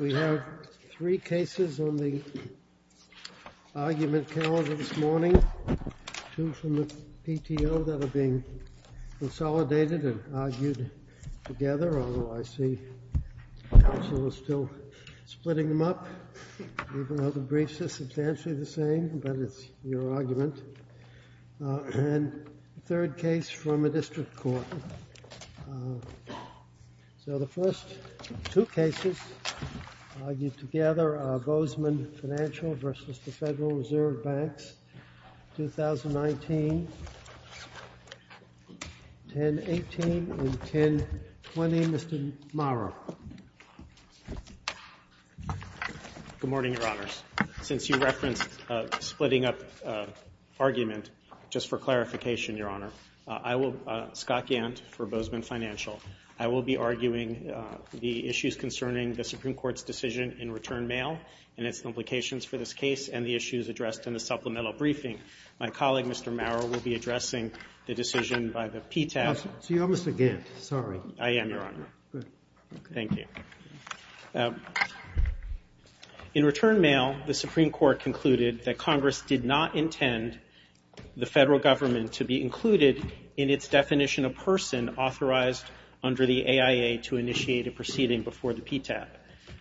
We have three cases on the argument calendar this morning, two from the PTO that are being consolidated and argued together, although I see counsel is still splitting them up, even though the briefs are substantially the same, but it's your argument. And third case from a district court. So the first two cases argued together are Bozeman Financial v. Federal Reserve Bank, case 2019-1018 and 1020, Mr. Maurer. Good morning, Your Honors. Since you referenced splitting up argument, just for clarification, Your Honor, I will Scott Gant for Bozeman Financial. I will be arguing the issues concerning the Supreme Court's decision in return mail and its implications for this case and the issues addressed in the supplemental briefing. My colleague, Mr. Maurer, will be addressing the decision by the PTAP. So you're Mr. Gant, sorry. I am, Your Honor. Good. Thank you. In return mail, the Supreme Court concluded that Congress did not intend the Federal Government to be included in its definition of person authorized under the AIA to initiate a proceeding before the PTAP.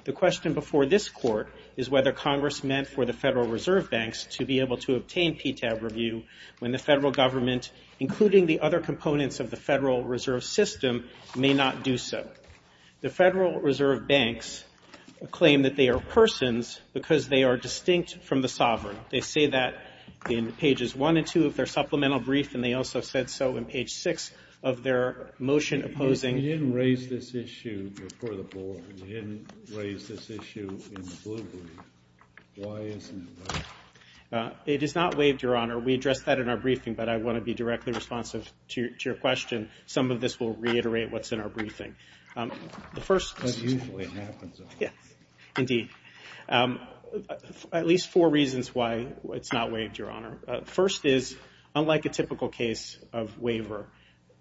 The question before this Court is whether Congress meant for the Federal Reserve Banks to be able to obtain PTAP review when the Federal Government, including the other components of the Federal Reserve System, may not do so. The Federal Reserve Banks claim that they are persons because they are distinct from the sovereign. They say that in pages one and two of their supplemental brief, and they also said so in page six of their motion opposing. You didn't raise this issue before the Board. You didn't raise this issue in the Blue Brief. Why isn't it raised? It is not waived, Your Honor. We addressed that in our briefing, but I want to be directly responsive to your question. Some of this will reiterate what's in our briefing. That usually happens, Your Honor. At least four reasons why it's not waived, Your Honor. First is, unlike a typical case of waiver,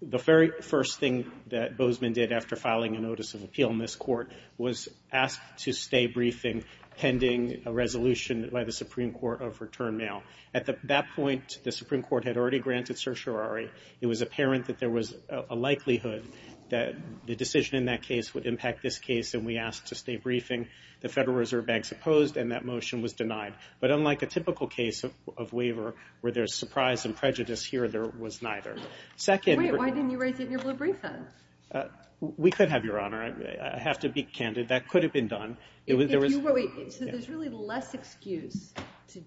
the very first thing that Bozeman did after filing a notice of appeal in this Court was ask to stay briefing pending a resolution by the Supreme Court of return mail. At that point, the Supreme Court had already granted certiorari. It was apparent that there was a likelihood that the decision in that case would impact this case, and we asked to stay briefing. The Federal Reserve Banks opposed, and that motion was denied. But unlike a typical case of waiver, where there's surprise and prejudice here, there was neither. Wait, why didn't you raise it in your Blue Brief, then? We could have, Your Honor. I have to be candid. That could have been done. Wait, so there's really less excuse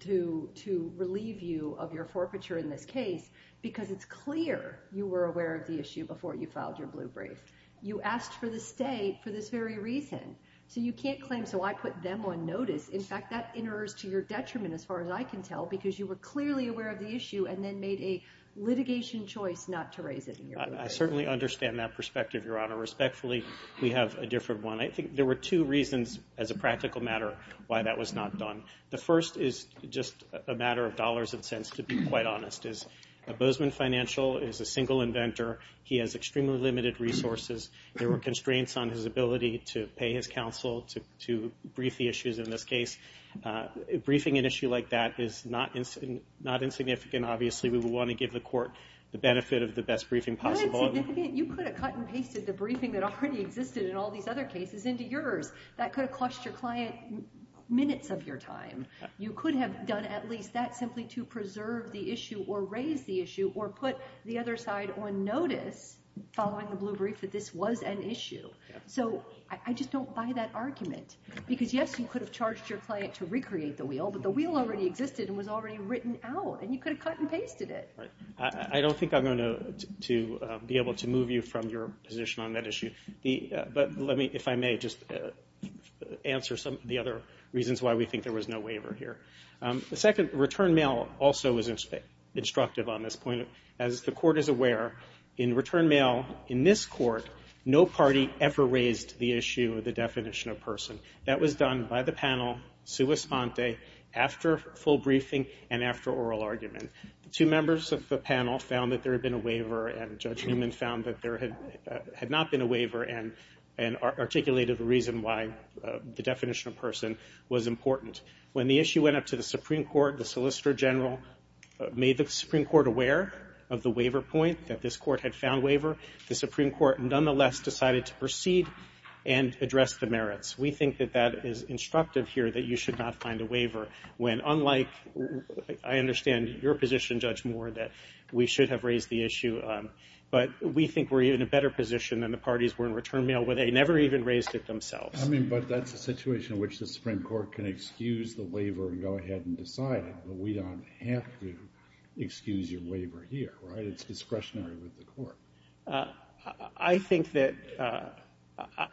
to relieve you of your forfeiture in this case because it's clear you were aware of the issue before you filed your Blue Brief. You asked for the stay for this very reason. So you can't claim, so I put them on notice. In fact, that enters to your detriment, as far as I can tell, because you were clearly aware of the issue and then made a litigation choice not to raise it in your Blue Brief. I certainly understand that perspective, Your Honor. Respectfully, we have a different one. I think there were two reasons, as a practical matter, why that was not done. The first is just a matter of dollars and cents, to be quite honest. Bozeman Financial is a single inventor. He has extremely limited resources. There were constraints on his ability to pay his counsel to brief the issues in this case. Briefing an issue like that is not insignificant, obviously. We would want to give the court the benefit of the best briefing possible. Not insignificant? You could have cut and pasted the briefing that already existed in all these other cases into yours. That could have cost your client minutes of your time. You could have done at least that simply to preserve the issue or raise the issue or put the other side on notice following the Blue Brief that this was an issue. I just don't buy that argument. Yes, you could have charged your client to recreate the wheel, but the wheel already existed and was already written out. You could have cut and pasted it. I don't think I'm going to be able to move you from your position on that issue. Let me, if I may, just answer some of the other reasons why we think there was no waiver here. The second, return mail also was instructive on this point. As the court is aware, in return mail in this court, no party ever raised the issue or the definition of person. That was done by the panel sua sponte after full briefing and after oral argument. Two members of the panel found that there had been a waiver, and Judge Newman found that there had not been a waiver and articulated the reason why the definition of person was important. When the issue went up to the Supreme Court, the Solicitor General made the Supreme Court aware of the waiver point, that this court had found waiver. The Supreme Court nonetheless decided to proceed and address the merits. We think that that is instructive here that you should not find a waiver when, unlike I understand your position, Judge Moore, that we should have raised the issue, but we think we're in a better position than the parties were in return mail where they never even raised it themselves. I mean, but that's a situation in which the Supreme Court can excuse the waiver and go ahead and decide it, but we don't have to excuse your waiver here, right? It's discretionary with the court. I think that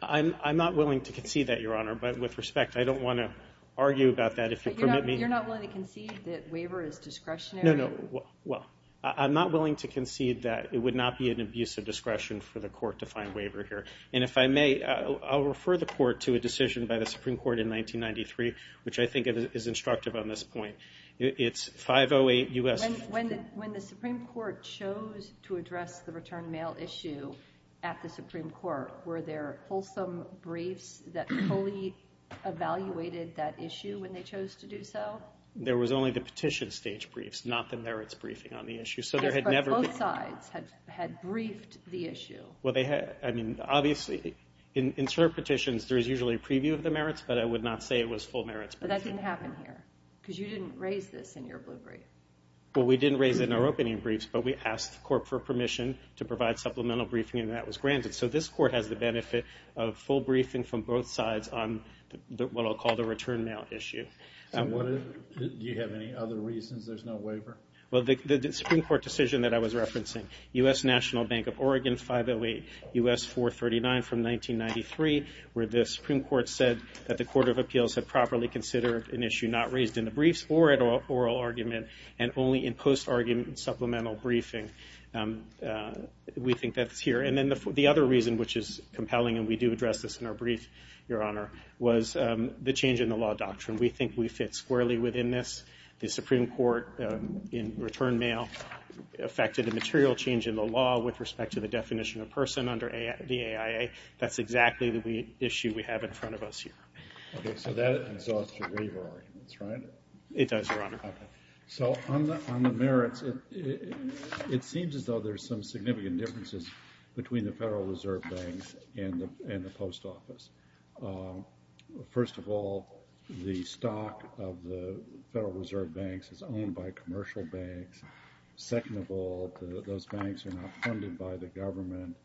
I'm not willing to concede that, Your Honor, but with respect, I don't want to argue about that if you'll permit me. You're not willing to concede that waiver is discretionary? No, no. Well, I'm not willing to concede that it would not be an abuse of discretion for the court to find waiver here. And if I may, I'll refer the court to a decision by the Supreme Court in 1993, which I think is instructive on this point. It's 508 U.S. When the Supreme Court chose to address the return mail issue at the Supreme Court, were there wholesome briefs that fully evaluated that issue when they chose to do so? There was only the petition stage briefs, not the merits briefing on the issue. But both sides had briefed the issue. Obviously, in cert petitions, there is usually a preview of the merits, but I would not say it was full merits briefing. But that didn't happen here because you didn't raise this in your blue brief. Well, we didn't raise it in our opening briefs, but we asked the court for permission to provide supplemental briefing, and that was granted. So this court has the benefit of full briefing from both sides on what I'll call the return mail issue. Do you have any other reasons there's no waiver? Well, the Supreme Court decision that I was referencing, U.S. National Bank of Oregon 508 U.S. 439 from 1993, where the Supreme Court said that the Court of Appeals had properly considered an issue not raised in the briefs or at oral argument and only in post-argument supplemental briefing. We think that's here. And then the other reason, which is compelling, and we do address this in our brief, Your Honor, was the change in the law doctrine. We think we fit squarely within this. The Supreme Court in return mail affected a material change in the law with respect to the definition of person under the AIA. That's exactly the issue we have in front of us here. Okay. So that exhausts your waiver arguments, right? It does, Your Honor. Okay. So on the merits, it seems as though there's some significant differences between the Federal Reserve Bank and the post office. First of all, the stock of the Federal Reserve Banks is owned by commercial banks. Second of all, those banks are not funded by the government.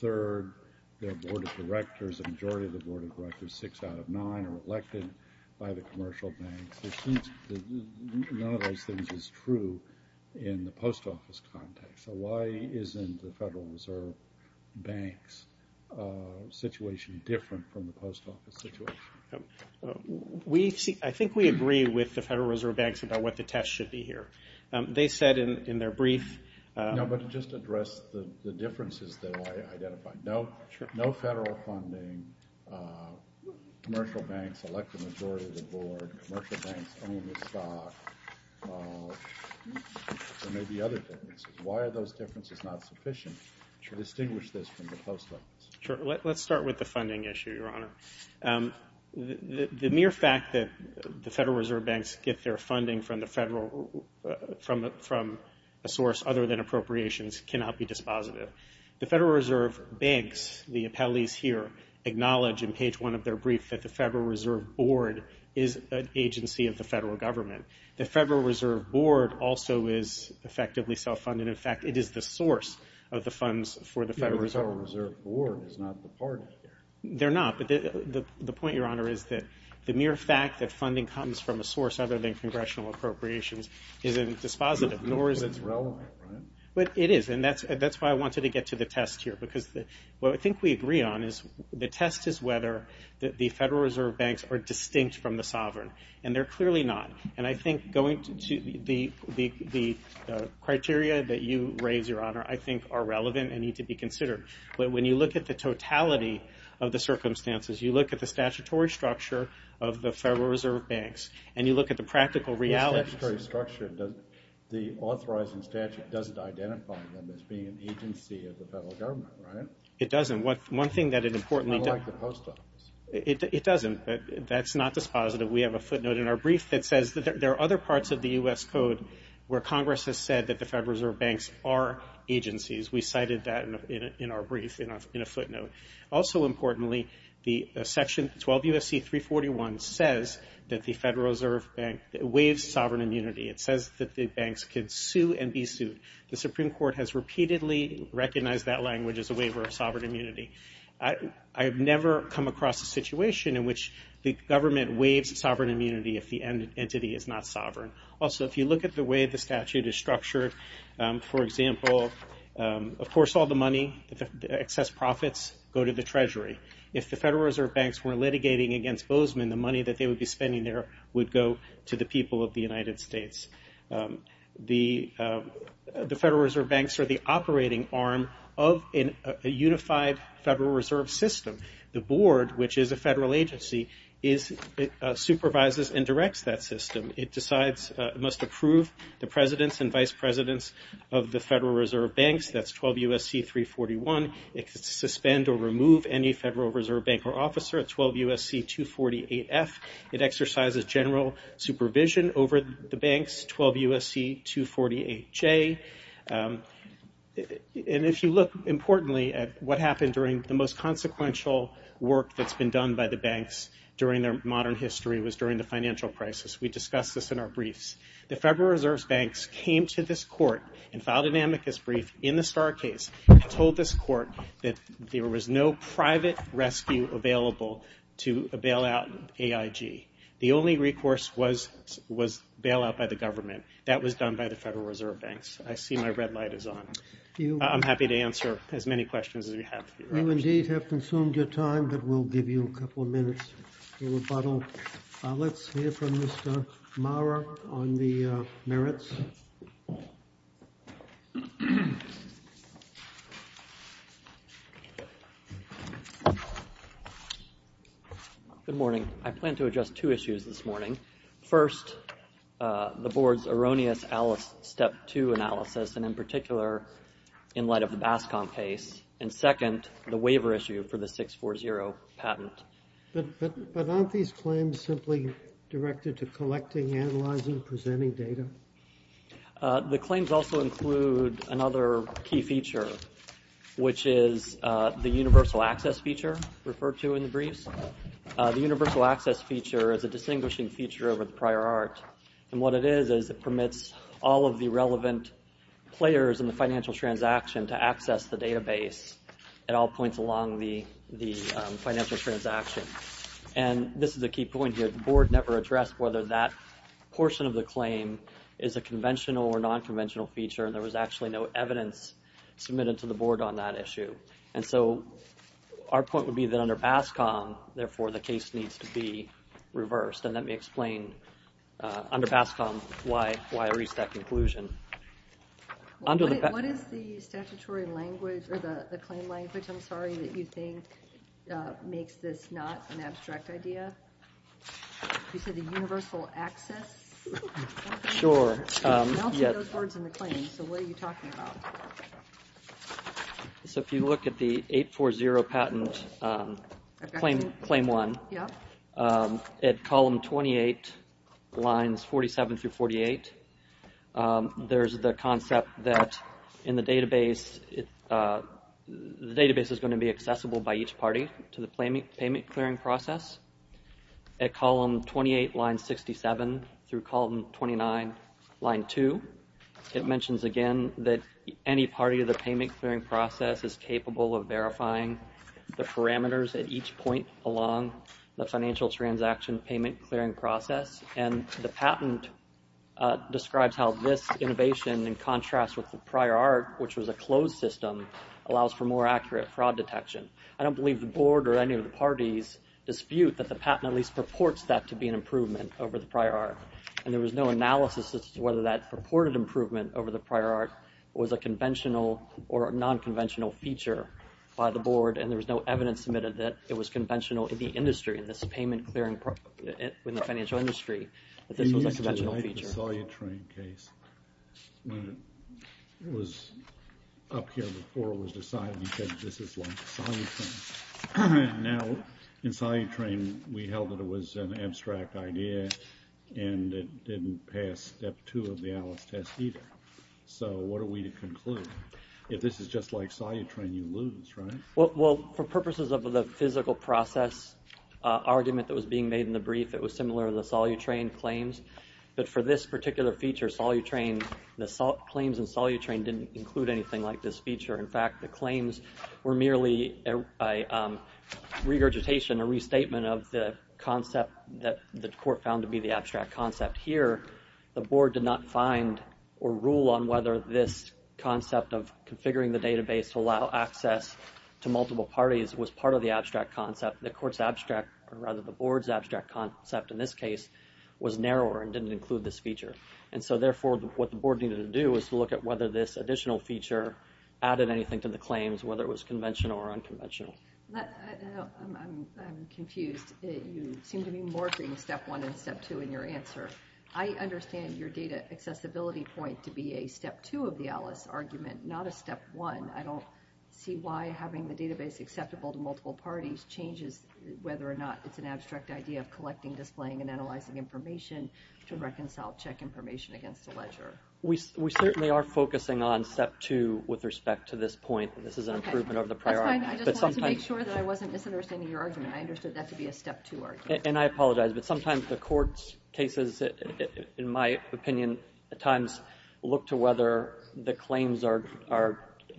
Third, their board of directors, the majority of the board of directors, six out of nine are elected by the commercial banks. None of those things is true in the post office context. So why isn't the Federal Reserve Bank's situation different from the post office situation? I think we agree with the Federal Reserve Banks about what the test should be here. They said in their brief. No, but to just address the differences that I identified. No federal funding, commercial banks elect the majority of the board, commercial banks own the stock. There may be other differences. Why are those differences not sufficient to distinguish this from the post office? Sure. Let's start with the funding issue, Your Honor. The mere fact that the Federal Reserve Banks get their funding from a source other than appropriations cannot be dispositive. The Federal Reserve Banks, the appellees here, acknowledge in page one of their brief that the Federal Reserve Board is an agency of the federal government. The Federal Reserve Board also is effectively self-funded. In fact, it is the source of the funds for the Federal Reserve. The Federal Reserve Board is not the party here. They're not. But the point, Your Honor, is that the mere fact that funding comes from a source other than congressional appropriations isn't dispositive, nor is it relevant. But it is. And that's why I wanted to get to the test here. Because what I think we agree on is the test is whether the Federal Reserve Banks are distinct from the sovereign. And they're clearly not. And I think going to the criteria that you raise, Your Honor, I think are relevant and need to be considered. But when you look at the totality of the circumstances, you look at the statutory structure of the Federal Reserve Banks, and you look at the practical realities. The statutory structure, the authorizing statute doesn't identify them as being an agency of the federal government, right? It doesn't. One thing that it importantly does. Unlike the post office. It doesn't. That's not dispositive. We have a footnote in our brief that says that there are other parts of the U.S. Code where Congress has said that the Federal Reserve Banks are agencies. We cited that in our brief in a footnote. Also importantly, the section 12 U.S.C. 341 says that the Federal Reserve Bank waives sovereign immunity. It says that the banks can sue and be sued. The Supreme Court has repeatedly recognized that language as a waiver of sovereign immunity. I have never come across a situation in which the government waives sovereign immunity if the entity is not sovereign. Also, if you look at the way the statute is structured, for example, of course all the money, the excess profits, go to the treasury. If the Federal Reserve Banks were litigating against Bozeman, the money that they would be spending there would go to the people of the United States. The Federal Reserve Banks are the operating arm of a unified Federal Reserve System. The board, which is a federal agency, supervises and directs that system. It must approve the presidents and vice presidents of the Federal Reserve Banks. That's 12 U.S.C. 341. It can suspend or remove any Federal Reserve Bank or officer at 12 U.S.C. 248F. It exercises general supervision over the banks, 12 U.S.C. 248J. And if you look importantly at what happened during the most consequential work that's been done by the banks during their modern history was during the financial crisis. We discussed this in our briefs. The Federal Reserve Banks came to this court and filed an amicus brief in the Starr case and told this court that there was no private rescue available to bail out AIG. The only recourse was bailout by the government. That was done by the Federal Reserve Banks. I see my red light is on. I'm happy to answer as many questions as you have. You indeed have consumed your time, but we'll give you a couple of minutes for rebuttal. Let's hear from Mr. Maurer on the merits. Good morning. I plan to address two issues this morning. First, the Board's erroneous Alice Step 2 analysis, and in particular in light of the BASCOM case. And second, the waiver issue for the 640 patent. But aren't these claims simply directed to collecting, analyzing, presenting data? The claims also include another key feature, which is the universal access feature referred to in the briefs. The universal access feature is a distinguishing feature over the prior art. And what it is is it permits all of the relevant players in the financial transaction to access the database at all points along the financial transaction. And this is a key point here. The Board never addressed whether that portion of the claim is a conventional or non-conventional feature, and there was actually no evidence submitted to the Board on that issue. And so our point would be that under BASCOM, therefore, the case needs to be reversed. And let me explain under BASCOM why I reached that conclusion. What is the statutory language or the claim language, I'm sorry, that you think makes this not an abstract idea? You said the universal access? Sure. I don't see those words in the claim, so what are you talking about? So if you look at the 840 patent, Claim 1, at Column 28, Lines 47 through 48, there's the concept that in the database, the database is going to be accessible by each party to the payment clearing process. At Column 28, Lines 67 through Column 29, Line 2, it mentions again that any party to the payment clearing process is capable of verifying the parameters at each point along the financial transaction payment clearing process. And the patent describes how this innovation, in contrast with the prior art, which was a closed system, allows for more accurate fraud detection. I don't believe the board or any of the parties dispute that the patent at least purports that to be an improvement over the prior art. And there was no analysis as to whether that purported improvement over the prior art was a conventional or a non-conventional feature by the board. And there was no evidence submitted that it was conventional in the industry, in this payment clearing, in the financial industry, that this was a conventional feature. In the Solutrain case, when it was up here before it was decided, you said this is like Solutrain. Now, in Solutrain, we held that it was an abstract idea, and it didn't pass Step 2 of the Alice test either. So what are we to conclude? If this is just like Solutrain, you lose, right? Well, for purposes of the physical process argument that was being made in the brief, it was similar to the Solutrain claims. But for this particular feature, claims in Solutrain didn't include anything like this feature. In fact, the claims were merely a regurgitation, a restatement of the concept that the court found to be the abstract concept. Here, the board did not find or rule on whether this concept of configuring the database to allow access to multiple parties was part of the abstract concept. The court's abstract, or rather the board's abstract concept in this case, was narrower and didn't include this feature. And so therefore, what the board needed to do was to look at whether this additional feature added anything to the claims, whether it was conventional or unconventional. I'm confused. You seem to be morphing Step 1 and Step 2 in your answer. I understand your data accessibility point to be a Step 2 of the Alice argument, not a Step 1. I don't see why having the database acceptable to multiple parties changes whether or not it's an abstract idea of collecting, displaying, and analyzing information to reconcile check information against the ledger. We certainly are focusing on Step 2 with respect to this point. This is an improvement over the prior argument. That's fine. I just wanted to make sure that I wasn't misunderstanding your argument. I understood that to be a Step 2 argument. And I apologize, but sometimes the court's cases, in my opinion, at times, look to whether the claims are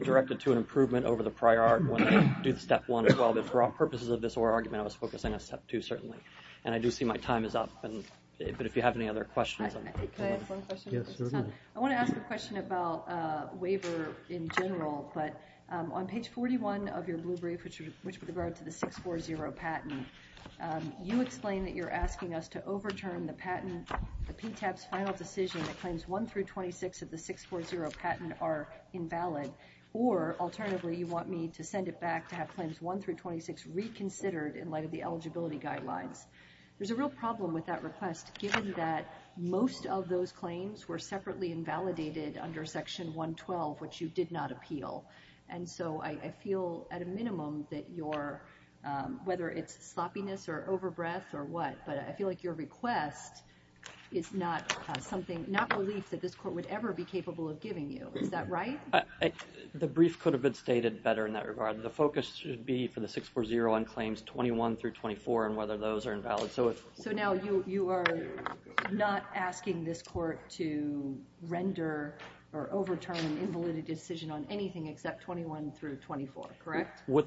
directed to an improvement over the prior one, do the Step 1 as well. But for all purposes of this oral argument, I was focusing on Step 2, certainly. And I do see my time is up. But if you have any other questions. Can I ask one question? Yes, certainly. I want to ask a question about waiver in general. But on page 41 of your blue brief, which would refer to the 640 patent, you explain that you're asking us to overturn the patent, the PTAP's final decision that claims 1 through 26 of the 640 patent are invalid. Or, alternatively, you want me to send it back to have claims 1 through 26 reconsidered in light of the eligibility guidelines. There's a real problem with that request, given that most of those claims were separately invalidated under Section 112, which you did not appeal. And so I feel, at a minimum, that your, whether it's sloppiness or overbreath or what, but I feel like your request is not something, not belief that this court would ever be capable of giving you. Is that right? The brief could have been stated better in that regard. The focus should be for the 640 on claims 21 through 24 and whether those are invalid. So now you are not asking this court to render or overturn an invalid decision on anything except 21 through 24, correct? With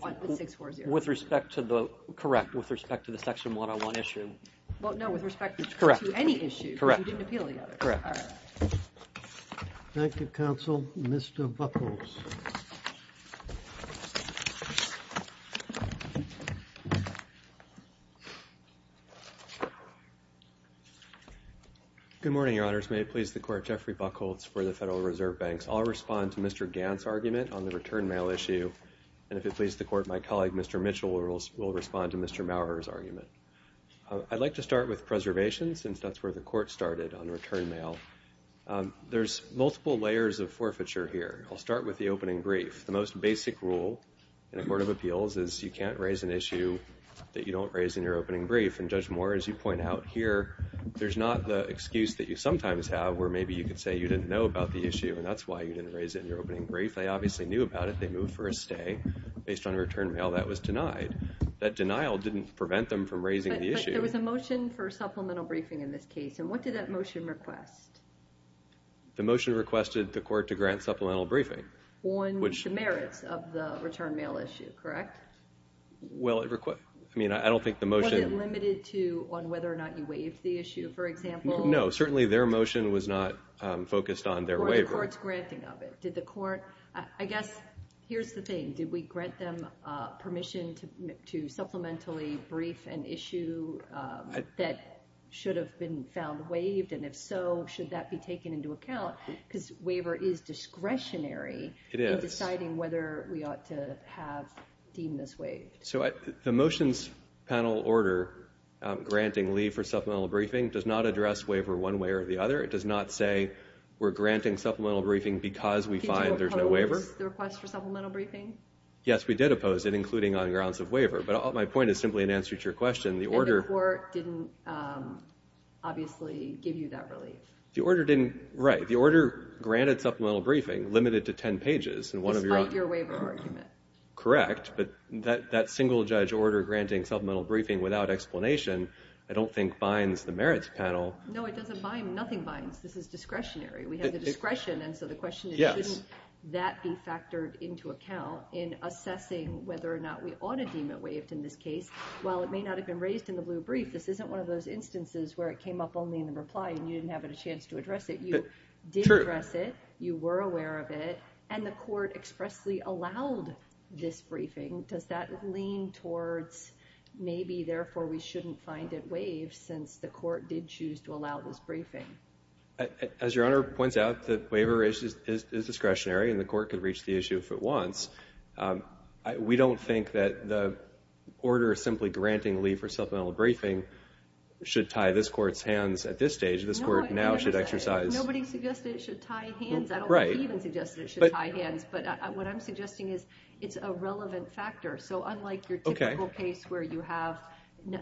respect to the, correct, with respect to the Section 101 issue. Well, no, with respect to any issue. Correct. You didn't appeal the other. Correct. Thank you, Counsel. Mr. Buckholz. Good morning, Your Honors. May it please the Court, Jeffrey Buckholz for the Federal Reserve Banks. I'll respond to Mr. Gant's argument on the return mail issue. And if it pleases the Court, my colleague, Mr. Mitchell, will respond to Mr. Maurer's argument. I'd like to start with preservation since that's where the Court started on return mail. There's multiple layers of forfeiture here. I'll start with the opening brief. The most basic rule in a court of appeals is you can't raise an issue that you don't raise in your opening brief. And, Judge Maurer, as you point out here, there's not the excuse that you sometimes have where maybe you could say you didn't know about the issue, and that's why you didn't raise it in your opening brief. They obviously knew about it. They moved for a stay. Based on return mail, that was denied. That denial didn't prevent them from raising the issue. But there was a motion for supplemental briefing in this case. And what did that motion request? The motion requested the Court to grant supplemental briefing. On the merits of the return mail issue, correct? Well, I mean, I don't think the motion... Was it limited to on whether or not you waived the issue, for example? No, certainly their motion was not focused on their waiver. Or the Court's granting of it. Did the Court, I guess, here's the thing. Did we grant them permission to supplementally brief an issue that should have been found waived? And if so, should that be taken into account? Because waiver is discretionary in deciding whether we ought to have deemed this waived. So the motions panel order granting leave for supplemental briefing does not address waiver one way or the other. It does not say we're granting supplemental briefing because we find there's no waiver. Did you oppose the request for supplemental briefing? Yes, we did oppose it, including on grounds of waiver. But my point is simply in answer to your question, the order... And the Court didn't obviously give you that relief. The order granted supplemental briefing, limited to 10 pages. Despite your waiver argument. Correct. But that single-judge order granting supplemental briefing without explanation, I don't think, binds the merits panel. No, it doesn't bind. Nothing binds. This is discretionary. We have the discretion. And so the question is, shouldn't that be factored into account in assessing whether or not we ought to deem it waived in this case? While it may not have been raised in the blue brief, this isn't one of those instances where it came up only in the reply and you didn't have a chance to address it. You did address it. You were aware of it. And the Court expressly allowed this briefing. Does that lean towards maybe, therefore, we shouldn't find it waived since the Court did choose to allow this briefing? As Your Honor points out, the waiver is discretionary and the Court can reach the issue if it wants. We don't think that the order simply granting leave for supplemental briefing should tie this Court's hands at this stage. This Court now should exercise... Nobody suggested it should tie hands. I don't think he even suggested it should tie hands. But what I'm suggesting is it's a relevant factor. So unlike your typical case where you have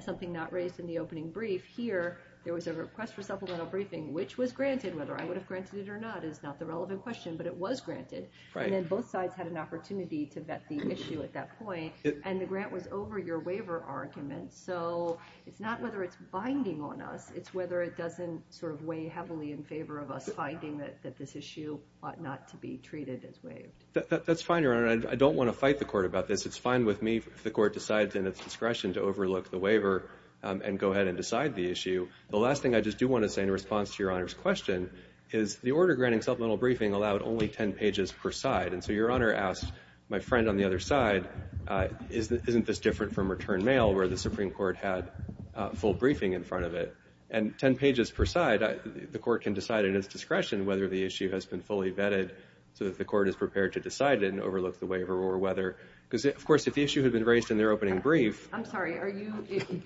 something not raised in the opening brief, here there was a request for supplemental briefing, which was granted. Whether I would have granted it or not is not the relevant question, but it was granted. And then both sides had an opportunity to vet the issue at that point. And the grant was over your waiver argument. So it's not whether it's binding on us. It's whether it doesn't sort of weigh heavily in favor of us finding that this issue ought not to be treated as waived. That's fine, Your Honor. I don't want to fight the Court about this. It's fine with me if the Court decides in its discretion to overlook the waiver and go ahead and decide the issue. The last thing I just do want to say in response to Your Honor's question is the order granting supplemental briefing allowed only 10 pages per side. And so Your Honor asked my friend on the other side, isn't this different from return mail where the Supreme Court had full briefing in front of it? And 10 pages per side, the Court can decide in its discretion whether the issue has been fully vetted so that the Court is prepared to decide and overlook the waiver or whether. Because, of course, if the issue had been raised in their opening brief. I'm sorry. Are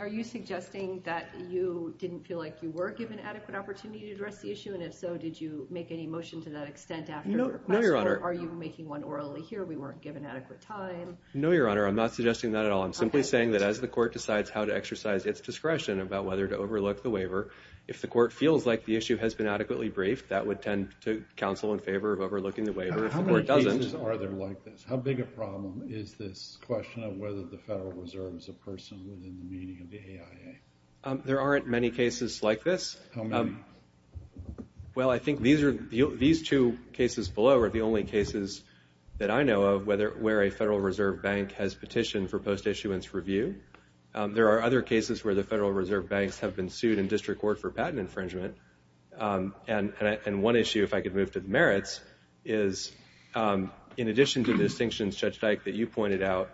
you suggesting that you didn't feel like you were given adequate opportunity to address the issue? And if so, did you make any motion to that extent after the request? No, Your Honor. Or are you making one orally here? We weren't given adequate time. No, Your Honor. I'm not suggesting that at all. I'm simply saying that as the Court decides how to exercise its discretion about whether to overlook the waiver, if the Court feels like the issue has been adequately briefed, that would tend to counsel in favor of overlooking the waiver. How many cases are there like this? How big a problem is this question of whether the Federal Reserve is a person within the meaning of the AIA? There aren't many cases like this. How many? Well, I think these two cases below are the only cases that I know of where a Federal Reserve Bank has petitioned for post-issuance review. There are other cases where the Federal Reserve Banks have been sued in district court for patent infringement. And one issue, if I could move to the merits, is in addition to the distinctions, Judge Dyke, that you pointed out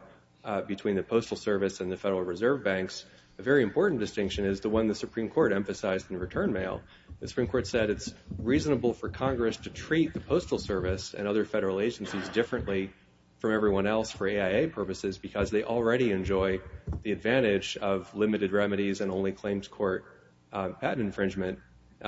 between the Postal Service and the Federal Reserve Banks, a very important distinction is the one the Supreme Court emphasized in the return mail. The Supreme Court said it's reasonable for Congress to treat the Postal Service and other federal agencies differently from everyone else for AIA purposes because they already enjoy the advantage of limited remedies and only claims court patent infringement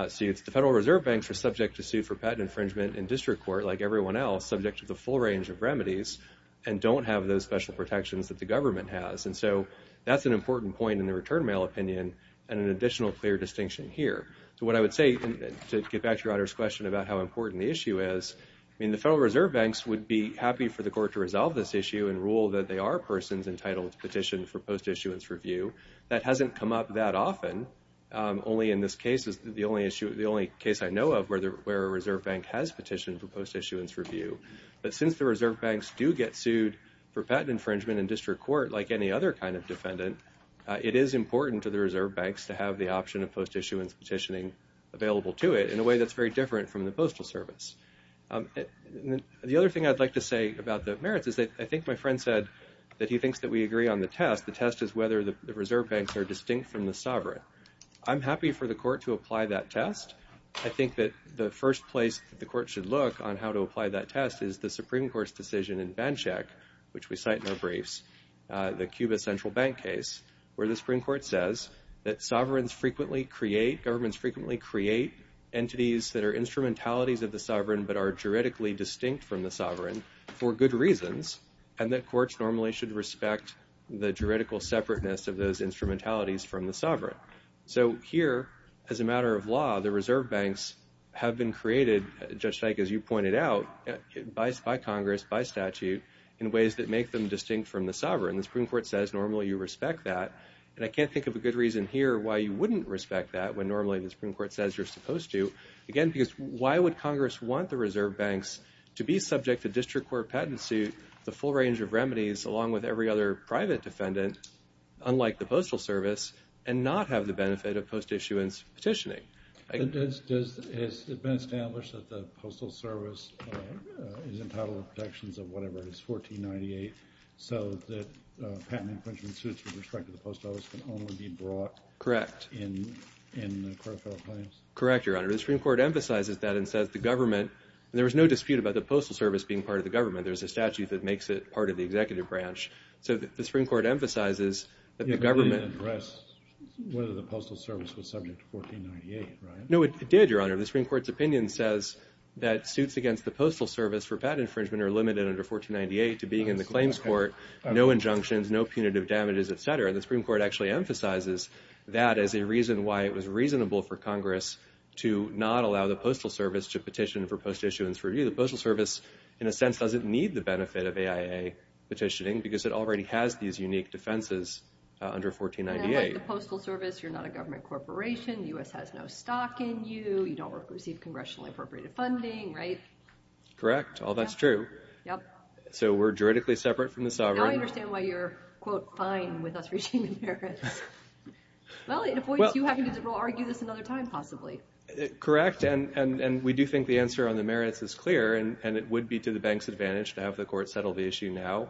suits. The Federal Reserve Banks are subject to suit for patent infringement in district court like everyone else, subject to the full range of remedies, and don't have those special protections that the government has. And so that's an important point in the return mail opinion and an additional clear distinction here. So what I would say, to get back to your Honor's question about how important the issue is, the Federal Reserve Banks would be happy for the court to resolve this issue and rule that they are persons entitled to petition for post-issuance review. That hasn't come up that often. Only in this case is the only case I know of where a Reserve Bank has petitioned for post-issuance review. But since the Reserve Banks do get sued for patent infringement in district court like any other kind of defendant, it is important to the Reserve Banks to have the option of post-issuance petitioning available to it in a way that's very different from the Postal Service. The other thing I'd like to say about the merits is that I think my friend said that he thinks that we agree on the test. The test is whether the Reserve Banks are distinct from the sovereign. I'm happy for the court to apply that test. I think that the first place the court should look on how to apply that test is the Supreme Court's decision in Banchak, which we cite in our briefs, the Cuba Central Bank case, where the Supreme Court says that sovereigns frequently create, governments frequently create, entities that are instrumentalities of the sovereign but are juridically distinct from the sovereign for good reasons, and that courts normally should respect the juridical separateness of those instrumentalities from the sovereign. So here, as a matter of law, the Reserve Banks have been created, Judge Dyke, as you pointed out, by Congress, by statute, in ways that make them distinct from the sovereign. The Supreme Court says normally you respect that, and I can't think of a good reason here why you wouldn't respect that when normally the Supreme Court says you're supposed to. Again, because why would Congress want the Reserve Banks to be subject to district court patent suit, the full range of remedies, along with every other private defendant, unlike the Postal Service, and not have the benefit of post-issuance petitioning? Has it been established that the Postal Service is entitled to protections of whatever it is, 1498, so that patent infringement suits with respect to the Post Office can only be brought in the court of federal claims? Correct, Your Honor. The Supreme Court emphasizes that and says the government, and there was no dispute about the Postal Service being part of the government. There's a statute that makes it part of the executive branch. So the Supreme Court emphasizes that the government— You didn't address whether the Postal Service was subject to 1498, right? No, it did, Your Honor. The Supreme Court's opinion says that suits against the Postal Service for patent infringement are limited under 1498 to being in the claims court, no injunctions, no punitive damages, et cetera. The Supreme Court actually emphasizes that as a reason why it was reasonable for Congress to not allow the Postal Service to petition for post-issuance review. The Postal Service, in a sense, doesn't need the benefit of AIA petitioning because it already has these unique defenses under 1498. And like the Postal Service, you're not a government corporation. The U.S. has no stock in you. You don't receive congressionally appropriated funding, right? Correct. All that's true. So we're juridically separate from the sovereign. Now I understand why you're, quote, fine with us reaching the merits. Well, it avoids you having to argue this another time, possibly. Correct, and we do think the answer on the merits is clear, and it would be to the bank's advantage to have the court settle the issue now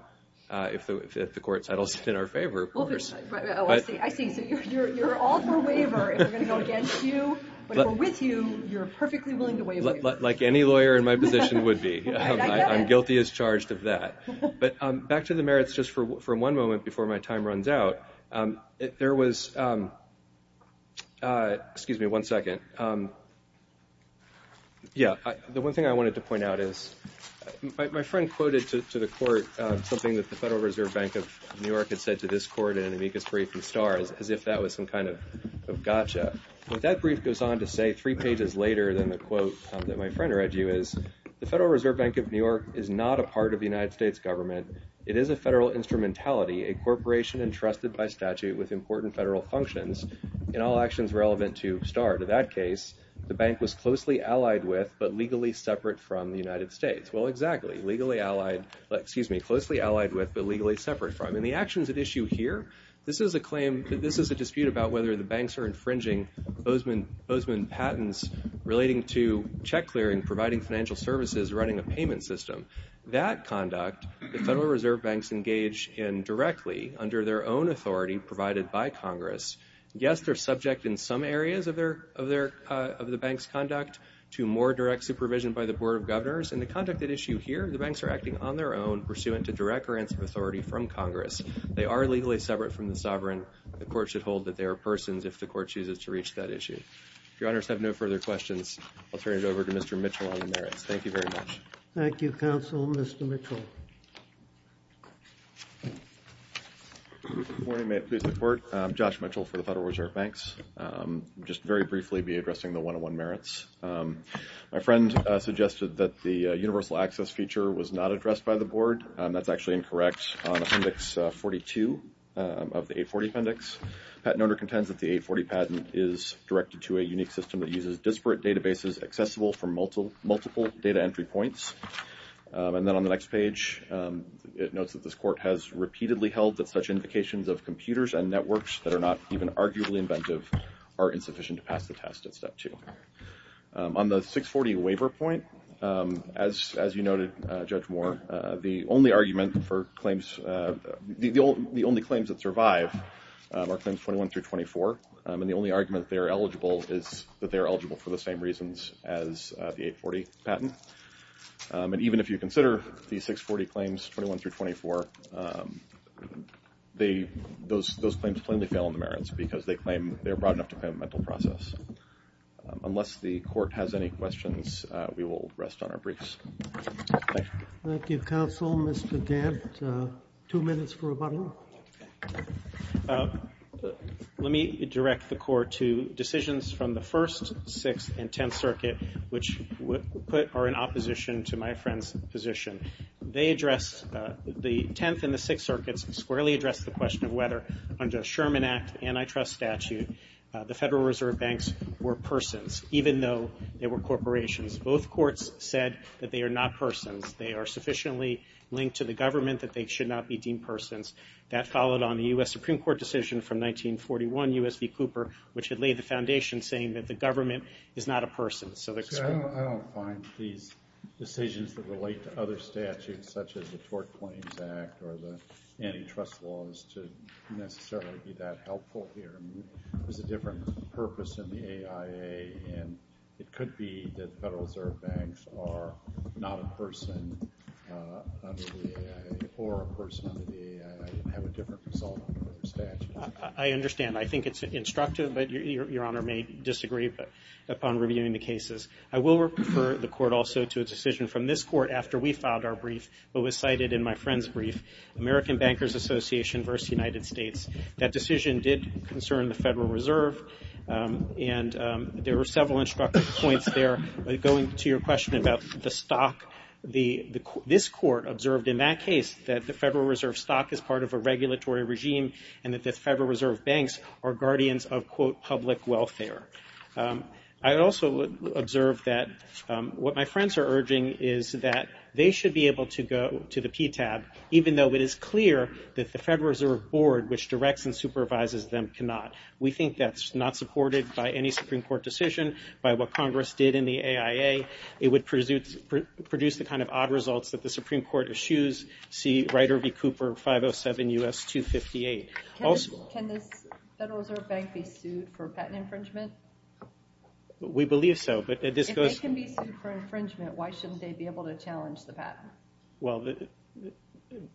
if the court settles it in our favor, of course. Oh, I see. I see. So you're all for waiver if we're going to go against you. But if we're with you, you're perfectly willing to waive waiver. Like any lawyer in my position would be. I'm guilty as charged of that. But back to the merits just for one moment before my time runs out. There was – excuse me one second. Yeah, the one thing I wanted to point out is my friend quoted to the court something that the Federal Reserve Bank of New York had said to this court in an amicus brief in Star as if that was some kind of gotcha. But that brief goes on to say three pages later than the quote that my friend read you is, the Federal Reserve Bank of New York is not a part of the United States government. It is a federal instrumentality, a corporation entrusted by statute with important federal functions in all actions relevant to Star. In that case, the bank was closely allied with but legally separate from the United States. Well, exactly. Legally allied – excuse me, closely allied with but legally separate from. And the actions at issue here, this is a claim – this is a dispute about whether the banks are infringing Bozeman patents relating to check clearing, providing financial services, running a payment system. That conduct, the Federal Reserve Banks engage in directly under their own authority provided by Congress. Yes, they're subject in some areas of the bank's conduct to more direct supervision by the Board of Governors. In the conduct at issue here, the banks are acting on their own pursuant to direct grants of authority from Congress. They are legally separate from the sovereign. The court should hold that they are persons if the court chooses to reach that issue. If your honors have no further questions, I'll turn it over to Mr. Mitchell on the merits. Thank you very much. Thank you, Counsel. Mr. Mitchell. Good morning. May it please the Court. I'm Josh Mitchell for the Federal Reserve Banks. I'll just very briefly be addressing the 101 merits. My friend suggested that the universal access feature was not addressed by the Board. That's actually incorrect. On Appendix 42 of the 840 Appendix, the patent owner contends that the 840 patent is directed to a unique system that uses disparate databases accessible from multiple data entry points. And then on the next page, it notes that this court has repeatedly held that such indications of computers and networks that are not even arguably inventive are insufficient to pass the test at Step 2. On the 640 waiver point, as you noted, Judge Moore, the only argument for claims – the only claims that survive are Claims 21 through 24, and the only argument they're eligible is that they're eligible for the same reasons as the 840 patent. And even if you consider the 640 claims, 21 through 24, those claims plainly fail on the merits because they're broad enough to claim a mental process. Unless the Court has any questions, we will rest on our briefs. Thank you. Thank you, Counsel. Mr. Dent, two minutes for rebuttal. Let me direct the Court to decisions from the First, Sixth, and Tenth Circuit, which are in opposition to my friend's position. They address – the Tenth and the Sixth Circuits squarely address the question of whether, under a Sherman Act antitrust statute, the Federal Reserve Banks were persons, even though they were corporations. Both courts said that they are not persons. They are sufficiently linked to the government that they should not be deemed persons. That followed on the U.S. Supreme Court decision from 1941, U.S. v. Cooper, which had laid the foundation saying that the government is not a person. I don't find these decisions that relate to other statutes such as the Tort Claims Act or the antitrust laws to necessarily be that helpful here. There's a different purpose in the AIA, and it could be that Federal Reserve Banks are not a person under the AIA or a person under the AIA and have a different result under the statute. I understand. I think it's instructive, but Your Honor may disagree upon reviewing the cases. I will refer the Court also to a decision from this Court after we filed our brief but was cited in my friend's brief, American Bankers Association v. United States. That decision did concern the Federal Reserve, and there were several instructive points there going to your question about the stock. This Court observed in that case that the Federal Reserve stock is part of a regulatory regime and that the Federal Reserve Banks are guardians of, quote, public welfare. I also observed that what my friends are urging is that they should be able to go to the PTAB, even though it is clear that the Federal Reserve Board, which directs and supervises them, cannot. We think that's not supported by any Supreme Court decision. By what Congress did in the AIA, it would produce the kind of odd results that the Supreme Court eschews, see Reiter v. Cooper 507 U.S. 258. Can the Federal Reserve Bank be sued for patent infringement? We believe so. If they can be sued for infringement, why shouldn't they be able to challenge the patent? Well,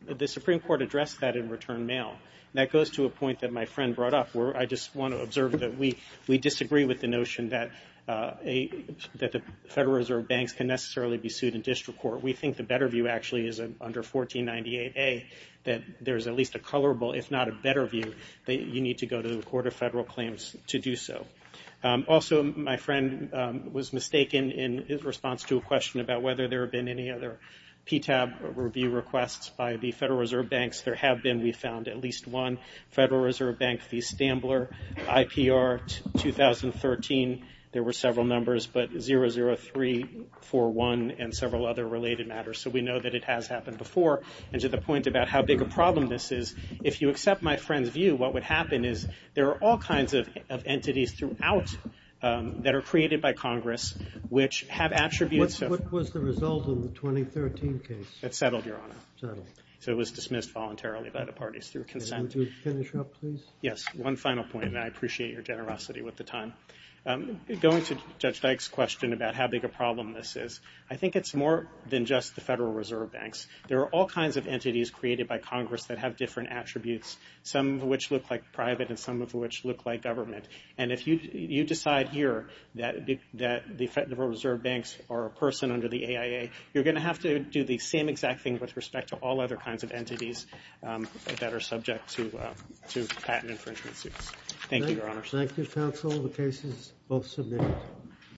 the Supreme Court addressed that in return mail, and that goes to a point that my friend brought up where I just want to observe that we disagree with the notion that the Federal Reserve Banks can necessarily be sued in district court. We think the better view actually is under 1498A that there is at least a colorable, if not a better view, that you need to go to the Court of Federal Claims to do so. Also, my friend was mistaken in his response to a question about whether there have been any other PTAB review requests by the Federal Reserve Banks. There have been. We found at least one Federal Reserve Bank, the Stambler IPR 2013. There were several numbers, but 00341 and several other related matters. So we know that it has happened before. And to the point about how big a problem this is, if you accept my friend's view, what would happen is there are all kinds of entities throughout that are created by Congress which have attributes of What was the result of the 2013 case? That settled, Your Honor. Settled. So it was dismissed voluntarily by the parties through consent. Would you finish up, please? Yes. One final point, and I appreciate your generosity with the time. Going to Judge Dyke's question about how big a problem this is, I think it's more than just the Federal Reserve Banks. There are all kinds of entities created by Congress that have different attributes, some of which look like private and some of which look like government. And if you decide here that the Federal Reserve Banks are a person under the AIA, you're going to have to do the same exact thing with respect to all other kinds of entities that are subject to patent infringement suits. Thank you, Your Honor. Thank you, counsel. The case is both submitted.